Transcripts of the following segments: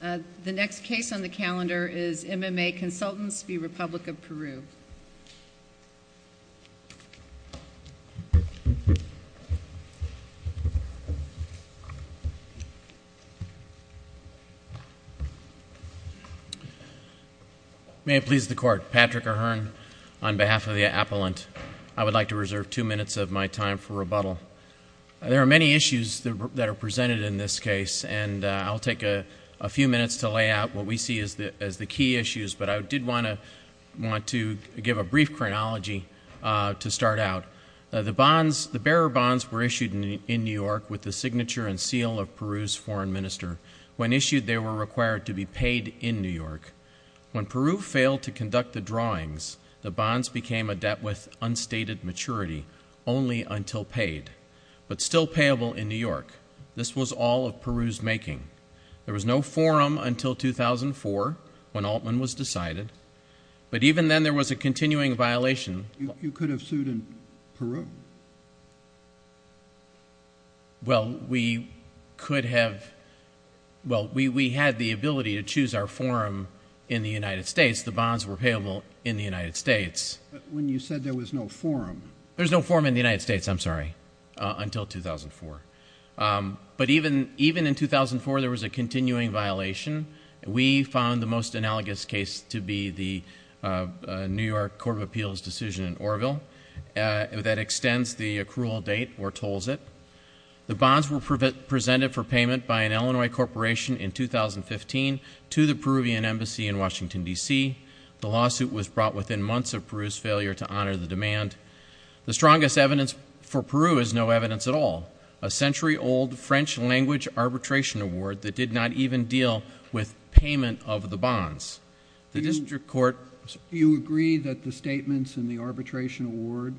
The next case on the calendar is MMA Consultants v. Republic of Peru. May it please the Court. Patrick O'Hearn on behalf of the Appellant. I would like to reserve two minutes of my time for rebuttal. There are many issues that are presented in this case, and I'll take a few minutes to lay out what we see as the key issues. But I did want to give a brief chronology to start out. The bearer bonds were issued in New York with the signature and seal of Peru's foreign minister. When issued, they were required to be paid in New York. When Peru failed to conduct the drawings, the bonds became a debt with unstated maturity, only until paid, but still payable in New York. This was all of Peru's making. There was no forum until 2004, when Altman was decided, but even then there was a continuing violation. You could have sued in Peru? Well, we had the ability to choose our forum in the United States. The bonds were payable in the United States. But when you said there was no forum? There was no forum in the United States, I'm sorry, until 2004. But even in 2004, there was a continuing violation. We found the most analogous case to be the New York Court of Appeals decision in Orville. That extends the accrual date or tolls it. The bonds were presented for payment by an Illinois corporation in 2015 to the Peruvian embassy in Washington, D.C. The lawsuit was brought within months of Peru's failure to honor the demand. The strongest evidence for Peru is no evidence at all. A century-old French language arbitration award that did not even deal with payment of the bonds. You agree that the statements in the arbitration award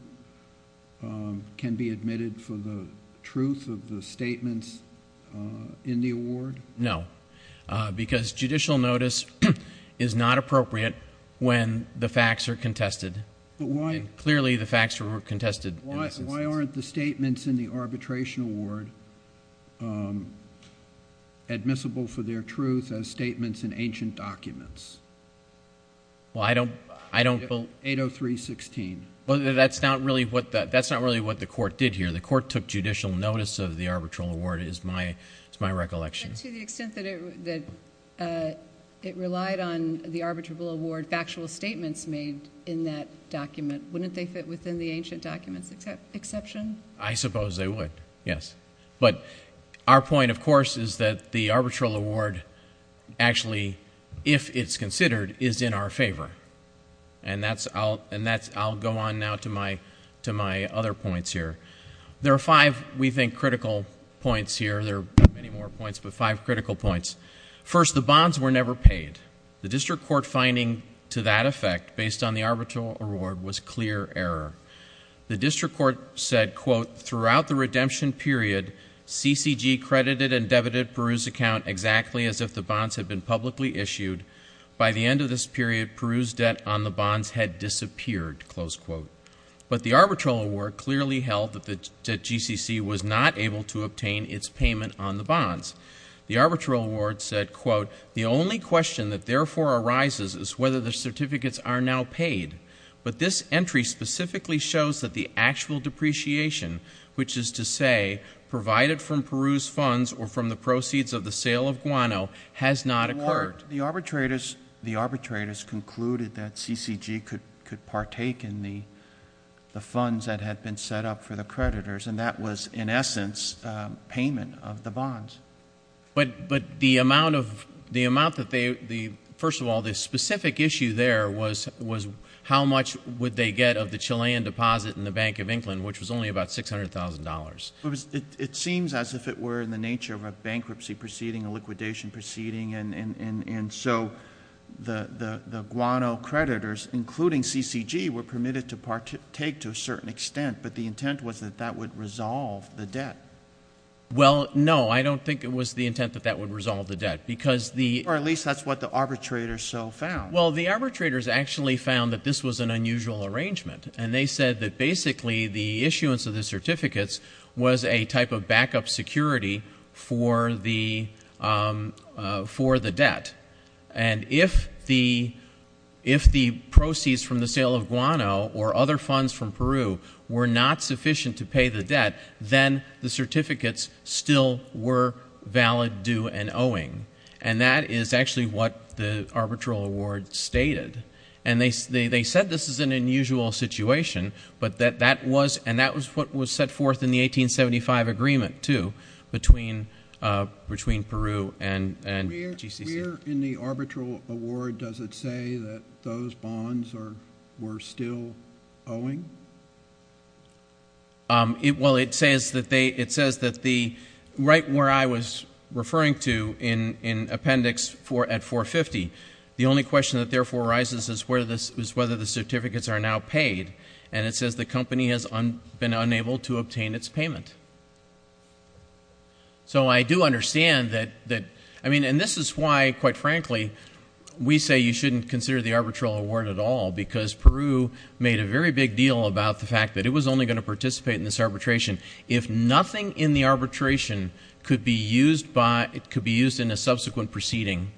can be admitted for the truth of the statements in the award? No, because judicial notice is not appropriate when the facts are contested. Clearly, the facts were contested. Why aren't the statements in the arbitration award admissible for their truth as statements in ancient documents? Well, I don't believe— 803.16. That's not really what the court did here. The court took judicial notice of the arbitral award is my recollection. But to the extent that it relied on the arbitral award, factual statements made in that document, wouldn't they fit within the ancient documents exception? I suppose they would, yes. But our point, of course, is that the arbitral award actually, if it's considered, is in our favor. And I'll go on now to my other points here. There are five, we think, critical points here. There are many more points, but five critical points. First, the bonds were never paid. The district court finding to that effect, based on the arbitral award, was clear error. The district court said, quote, Throughout the redemption period, CCG credited and debited Peru's account exactly as if the bonds had been publicly issued. By the end of this period, Peru's debt on the bonds had disappeared, close quote. But the arbitral award clearly held that the GCC was not able to obtain its payment on the bonds. The arbitral award said, quote, The only question that therefore arises is whether the certificates are now paid. But this entry specifically shows that the actual depreciation, which is to say, provided from Peru's funds or from the proceeds of the sale of guano, has not occurred. The arbitrators concluded that CCG could partake in the funds that had been set up for the creditors, and that was, in essence, payment of the bonds. But the amount that they, first of all, the specific issue there was how much would they get of the Chilean deposit in the Bank of England, which was only about $600,000. It seems as if it were in the nature of a bankruptcy proceeding, a liquidation proceeding, and so the guano creditors, including CCG, were permitted to partake to a certain extent, but the intent was that that would resolve the debt. Well, no, I don't think it was the intent that that would resolve the debt, because the — Or at least that's what the arbitrators so found. Well, the arbitrators actually found that this was an unusual arrangement, and they said that basically the issuance of the certificates was a type of backup security for the debt. And if the proceeds from the sale of guano or other funds from Peru were not sufficient to pay the debt, then the certificates still were valid due and owing. And that is actually what the arbitral award stated. And they said this is an unusual situation, but that that was — and that was what was set forth in the 1875 agreement, too, between Peru and GCC. Where in the arbitral award does it say that those bonds were still owing? Well, it says that they — it says that the — right where I was referring to in appendix at 450, the only question that therefore arises is whether the certificates are now paid, and it says the company has been unable to obtain its payment. So I do understand that — I mean, and this is why, quite frankly, we say you shouldn't consider the arbitral award at all, because Peru made a very big deal about the fact that it was only going to participate in this arbitration if nothing in the arbitration could be used by — could be used in a subsequent proceeding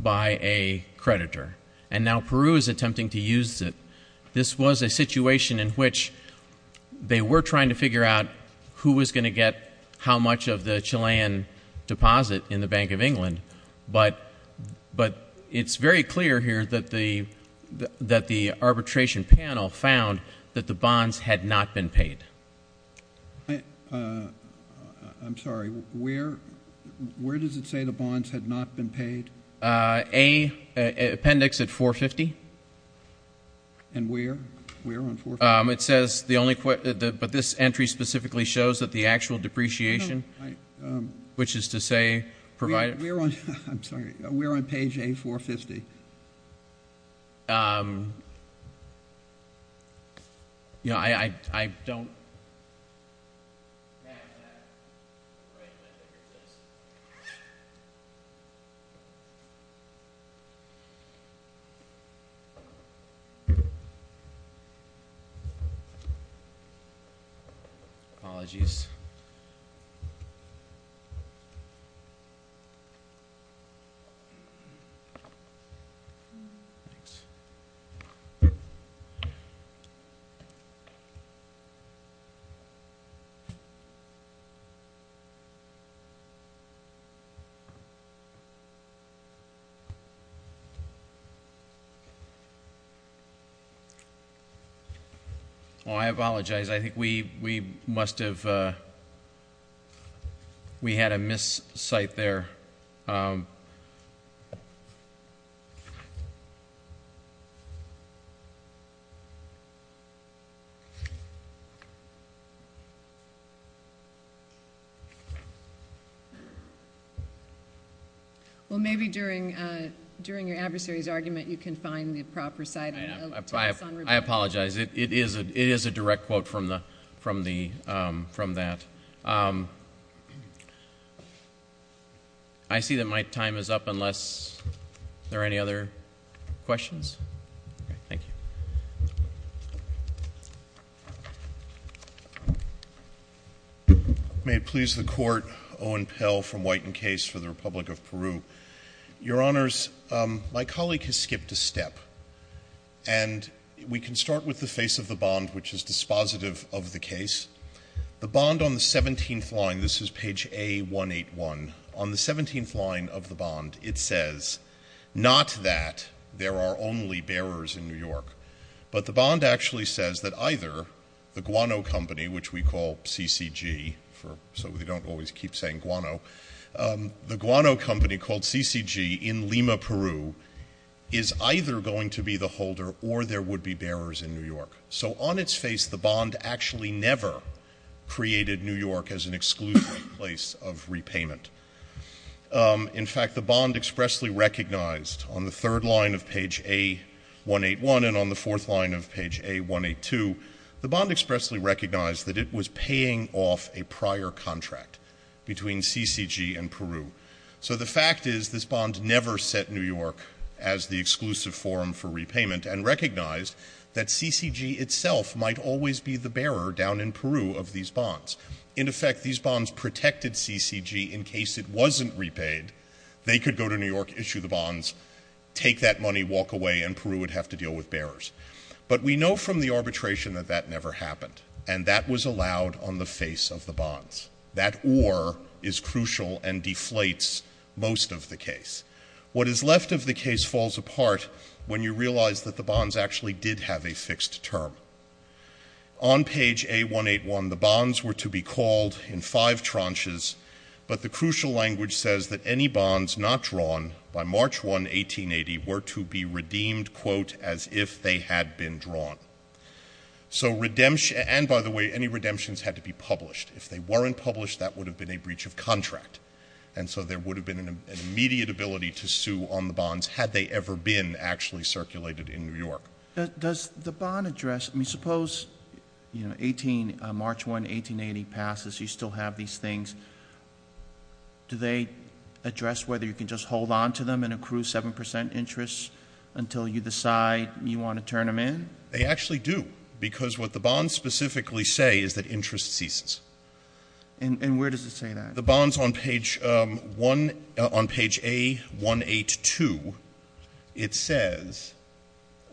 by a creditor. And now Peru is attempting to use it. This was a situation in which they were trying to figure out who was going to get how much of the Chilean deposit in the Bank of England, but it's very clear here that the arbitration panel found that the bonds had not been paid. I'm sorry. Where does it say the bonds had not been paid? Appendix at 450. And where? Where on 450? It says the only — but this entry specifically shows that the actual depreciation, which is to say provided — I'm sorry. Where on page A450? You know, I don't — All right. Apologies. Thanks. Well, I apologize. I think we must have — we had a miscite there. Well, maybe during your adversary's argument you can find the proper citing. I apologize. It is a direct quote from the — from that. I see that my time is up unless there are any other questions. Thank you. May it please the Court. Owen Pell from White and Case for the Republic of Peru. Your Honors, my colleague has skipped a step. And we can start with the face of the bond, which is dispositive of the case. The bond on the 17th line — this is page A181. On the 17th line of the bond, it says not that there are only bearers in New York, but the bond actually says that either the guano company, which we call CCG, so we don't always keep saying guano, the guano company called CCG in Lima, Peru, is either going to be the holder or there would be bearers in New York. So on its face, the bond actually never created New York as an exclusive place of repayment. In fact, the bond expressly recognized on the third line of page A181 and on the fourth line of page A182, the bond expressly recognized that it was paying off a prior contract between CCG and Peru. So the fact is this bond never set New York as the exclusive forum for repayment and recognized that CCG itself might always be the bearer down in Peru of these bonds. In effect, these bonds protected CCG in case it wasn't repaid. They could go to New York, issue the bonds, take that money, walk away, and Peru would have to deal with bearers. But we know from the arbitration that that never happened, and that was allowed on the face of the bonds. That or is crucial and deflates most of the case. What is left of the case falls apart when you realize that the bonds actually did have a fixed term. On page A181, the bonds were to be called in five tranches, but the crucial language says that any bonds not drawn by March 1, 1880, were to be redeemed, quote, as if they had been drawn. So redemption, and by the way, any redemptions had to be published. If they weren't published, that would have been a breach of contract. And so there would have been an immediate ability to sue on the bonds had they ever been actually circulated in New York. Does the bond address, I mean, suppose March 1, 1880 passes, you still have these things. Do they address whether you can just hold on to them and accrue 7% interest until you decide you want to turn them in? They actually do, because what the bonds specifically say is that interest ceases. And where does it say that? The bonds on page A182, it says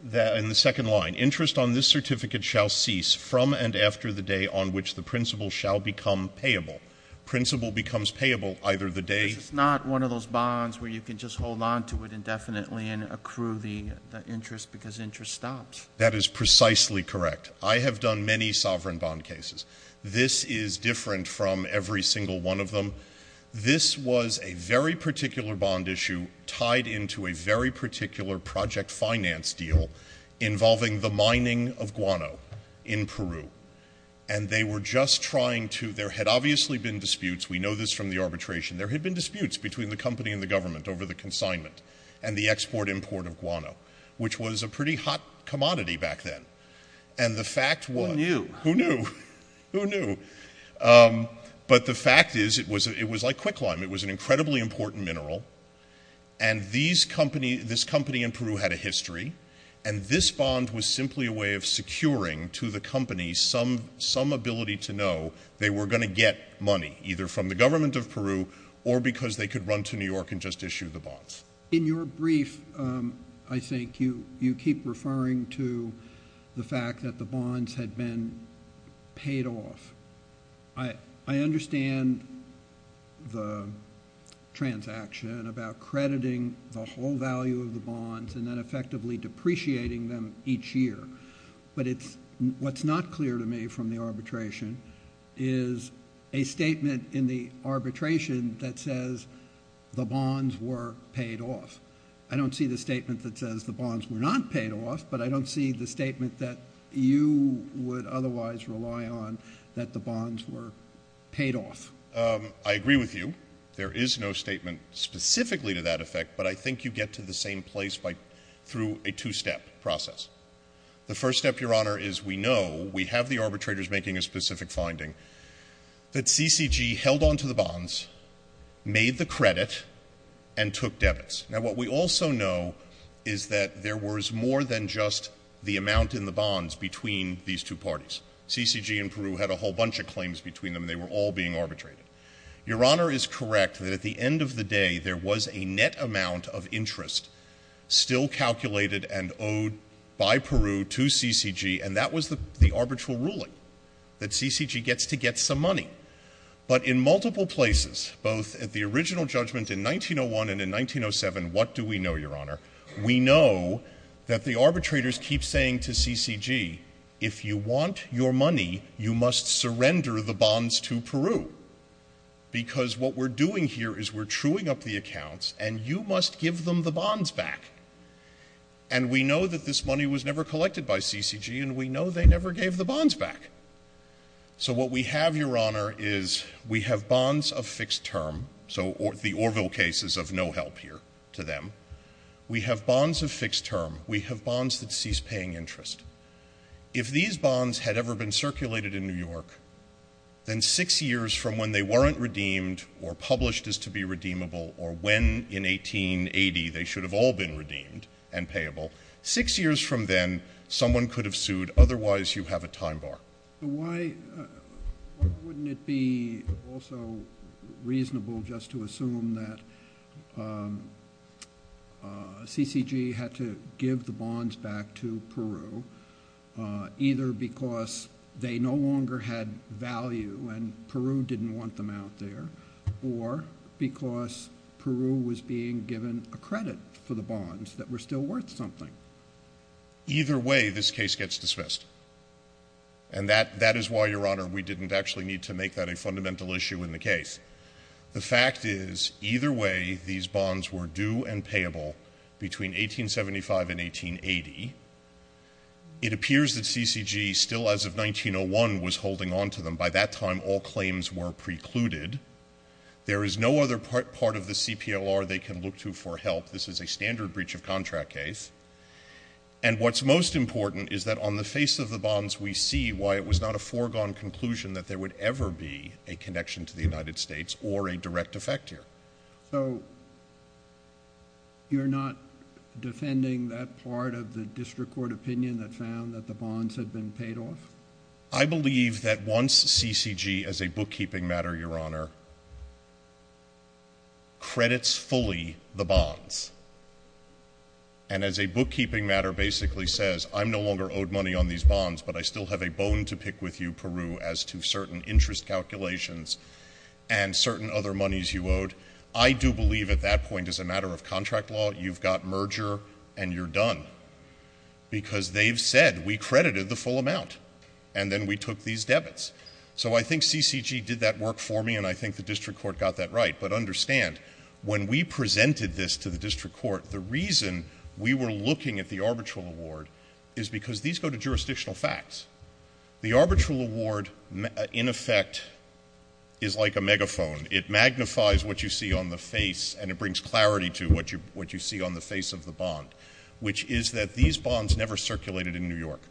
that in the second line, interest on this certificate shall cease from and after the day on which the principal shall become payable. Principal becomes payable either the day. But it's not one of those bonds where you can just hold on to it indefinitely and accrue the interest because interest stops. That is precisely correct. I have done many sovereign bond cases. This is different from every single one of them. This was a very particular bond issue tied into a very particular project finance deal involving the mining of guano in Peru. And they were just trying to, there had obviously been disputes. We know this from the arbitration. There had been disputes between the company and the government over the consignment and the export import of guano, which was a pretty hot commodity back then. And the fact was. Who knew? Who knew? Who knew? But the fact is it was like quicklime. It was an incredibly important mineral. And this company in Peru had a history. And this bond was simply a way of securing to the company some ability to know they were going to get money, either from the government of Peru or because they could run to New York and just issue the bonds. In your brief, I think, you keep referring to the fact that the bonds had been paid off. I understand the transaction about crediting the whole value of the bonds and then effectively depreciating them each year. But what's not clear to me from the arbitration is a statement in the arbitration that says the bonds were paid off. I don't see the statement that says the bonds were not paid off, but I don't see the statement that you would otherwise rely on that the bonds were paid off. I agree with you. There is no statement specifically to that effect, but I think you get to the same place through a two-step process. The first step, Your Honor, is we know, we have the arbitrators making a specific finding, that CCG held onto the bonds, made the credit, and took debits. Now, what we also know is that there was more than just the amount in the bonds between these two parties. CCG in Peru had a whole bunch of claims between them. They were all being arbitrated. Your Honor is correct that at the end of the day, there was a net amount of interest still calculated and owed by Peru to CCG, and that was the arbitral ruling, that CCG gets to get some money. But in multiple places, both at the original judgment in 1901 and in 1907, what do we know, Your Honor? We know that the arbitrators keep saying to CCG, if you want your money, you must surrender the bonds to Peru, because what we're doing here is we're truing up the accounts, and you must give them the bonds back. And we know that this money was never collected by CCG, and we know they never gave the bonds back. So what we have, Your Honor, is we have bonds of fixed term, so the Orville case is of no help here to them. We have bonds of fixed term. We have bonds that cease paying interest. If these bonds had ever been circulated in New York, then six years from when they weren't redeemed or published as to be redeemable or when in 1880 they should have all been redeemed and payable, six years from then, someone could have sued. Otherwise, you have a time bar. Why wouldn't it be also reasonable just to assume that CCG had to give the bonds back to Peru, either because they no longer had value and Peru didn't want them out there, or because Peru was being given a credit for the bonds that were still worth something? Either way, this case gets dismissed. And that is why, Your Honor, we didn't actually need to make that a fundamental issue in the case. The fact is, either way, these bonds were due and payable between 1875 and 1880. It appears that CCG, still as of 1901, was holding onto them. By that time, all claims were precluded. There is no other part of the CPLR they can look to for help. This is a standard breach of contract case. And what's most important is that on the face of the bonds, we see why it was not a foregone conclusion that there would ever be a connection to the United States or a direct effect here. So you're not defending that part of the district court opinion that found that the bonds had been paid off? I believe that once CCG, as a bookkeeping matter, Your Honor, credits fully the bonds, and as a bookkeeping matter basically says, I'm no longer owed money on these bonds, but I still have a bone to pick with you, Peru, as to certain interest calculations and certain other monies you owed, I do believe at that point, as a matter of contract law, you've got merger and you're done because they've said we credited the full amount and then we took these debits. So I think CCG did that work for me and I think the district court got that right. But understand, when we presented this to the district court, the reason we were looking at the arbitral award is because these go to jurisdictional facts. The arbitral award, in effect, is like a megaphone. It magnifies what you see on the face and it brings clarity to what you see on the face of the bond, which is that these bonds never circulated in New York.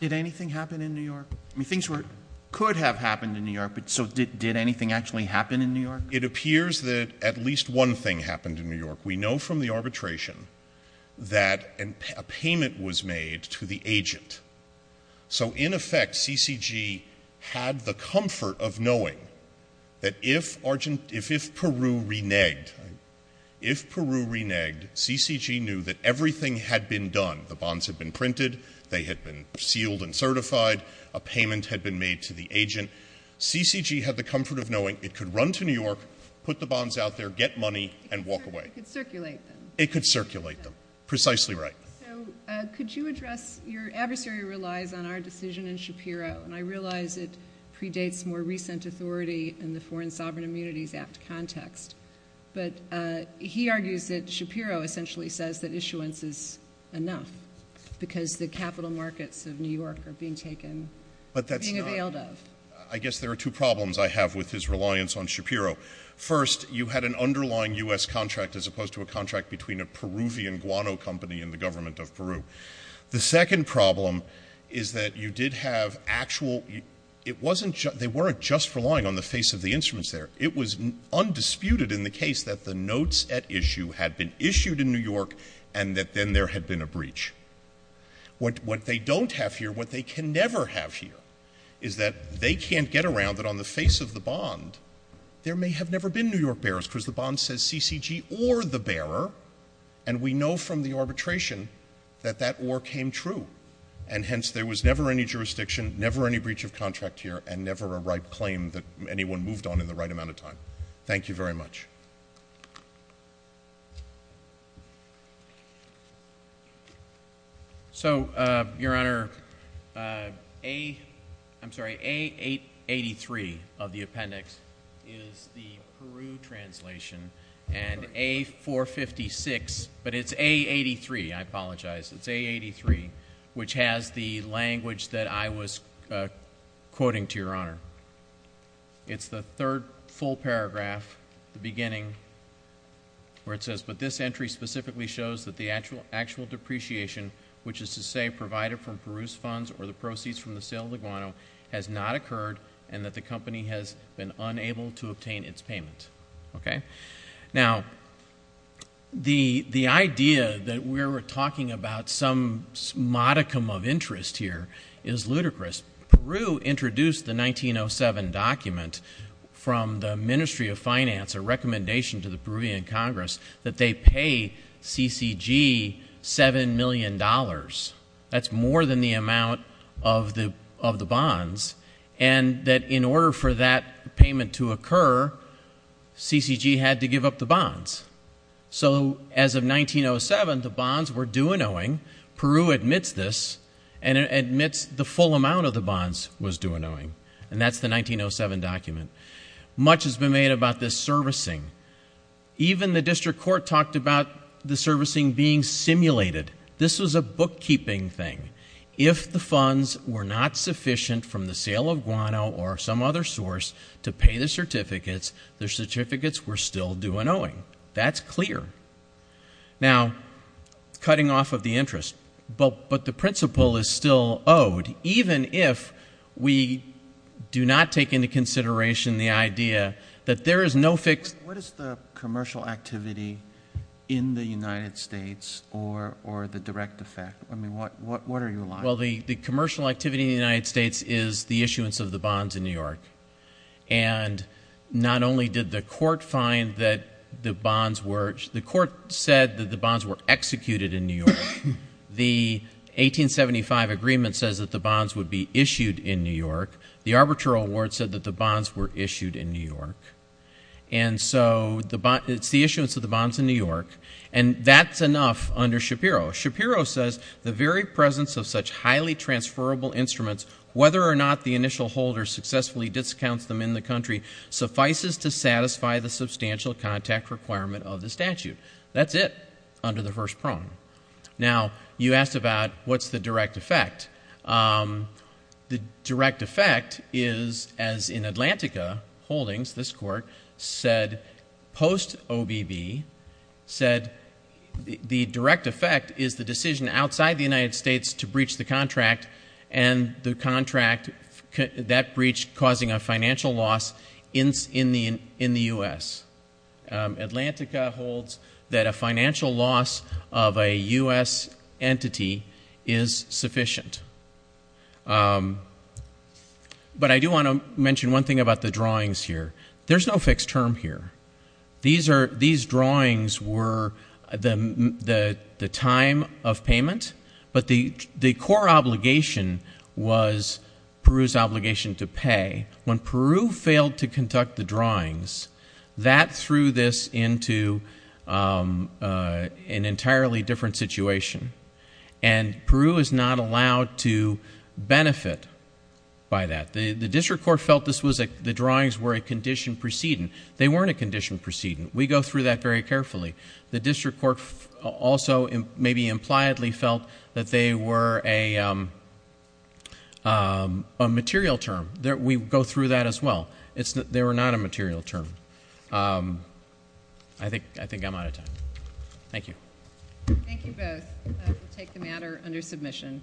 Did anything happen in New York? I mean, things could have happened in New York, but so did anything actually happen in New York? It appears that at least one thing happened in New York. We know from the arbitration that a payment was made to the agent. So in effect, CCG had the comfort of knowing that if Peru reneged, if Peru reneged, CCG knew that everything had been done. The bonds had been printed. They had been sealed and certified. A payment had been made to the agent. CCG had the comfort of knowing it could run to New York, put the bonds out there, get money, and walk away. It could circulate them. It could circulate them. Precisely right. So could you address, your adversary relies on our decision in Shapiro, and I realize it predates more recent authority in the Foreign Sovereign Immunities Act context, but he argues that Shapiro essentially says that issuance is enough because the capital markets of New York are being taken, being availed of. But that's not, I guess there are two problems I have with his reliance on Shapiro. First, you had an underlying U.S. contract as opposed to a contract between a Peruvian guano company and the government of Peru. The second problem is that you did have actual, it wasn't, they weren't just relying on the face of the instruments there. It was undisputed in the case that the notes at issue had been issued in New York and that then there had been a breach. What they don't have here, what they can never have here, is that they can't get around that on the face of the bond, there may have never been New York bearers because the bond says CCG or the bearer, and we know from the arbitration that that or came true. And hence, there was never any jurisdiction, never any breach of contract here, and never a right claim that anyone moved on in the right amount of time. Thank you very much. So, Your Honor, I'm sorry, A883 of the appendix is the Peru translation and A456, but it's A83, I apologize, it's A83, which has the language that I was quoting to Your Honor. It's the third full paragraph, the beginning, where it says, but this entry specifically shows that the actual depreciation, which is to say provided from Peru's funds or the proceeds from the sale of the guano, has not occurred and that the company has been unable to obtain its payment. Okay? Now, the idea that we're talking about some modicum of interest here is ludicrous. Peru introduced the 1907 document from the Ministry of Finance, a recommendation to the Peruvian Congress, that they pay CCG $7 million. That's more than the amount of the bonds. And that in order for that payment to occur, CCG had to give up the bonds. So, as of 1907, the bonds were due and owing. Peru admits this and admits the full amount of the bonds was due and owing, and that's the 1907 document. Much has been made about this servicing. Even the district court talked about the servicing being simulated. This was a bookkeeping thing. If the funds were not sufficient from the sale of guano or some other source to pay the certificates, the certificates were still due and owing. That's clear. Now, cutting off of the interest, but the principle is still owed. Even if we do not take into consideration the idea that there is no fixed What is the commercial activity in the United States or the direct effect? I mean, what are you alluding to? Well, the commercial activity in the United States is the issuance of the bonds in New York. And not only did the court find that the bonds were The court said that the bonds were executed in New York. The 1875 agreement says that the bonds would be issued in New York. The arbitral award said that the bonds were issued in New York. And so it's the issuance of the bonds in New York, and that's enough under Shapiro. Shapiro says the very presence of such highly transferable instruments, whether or not the initial holder successfully discounts them in the country, suffices to satisfy the substantial contact requirement of the statute. That's it under the first prong. Now, you asked about what's the direct effect. The direct effect is, as in Atlantica Holdings, this court said post-OBB, said the direct effect is the decision outside the United States to breach the contract and the contract that breached causing a financial loss in the U.S. Atlantica holds that a financial loss of a U.S. entity is sufficient. But I do want to mention one thing about the drawings here. There's no fixed term here. These drawings were the time of payment, but the core obligation was Peru's obligation to pay. When Peru failed to conduct the drawings, that threw this into an entirely different situation, and Peru is not allowed to benefit by that. The district court felt the drawings were a condition preceding. They weren't a condition preceding. We go through that very carefully. The district court also maybe impliedly felt that they were a material term. We go through that as well. They were not a material term. I think I'm out of time. Thank you. Thank you both. We'll take the matter under submission.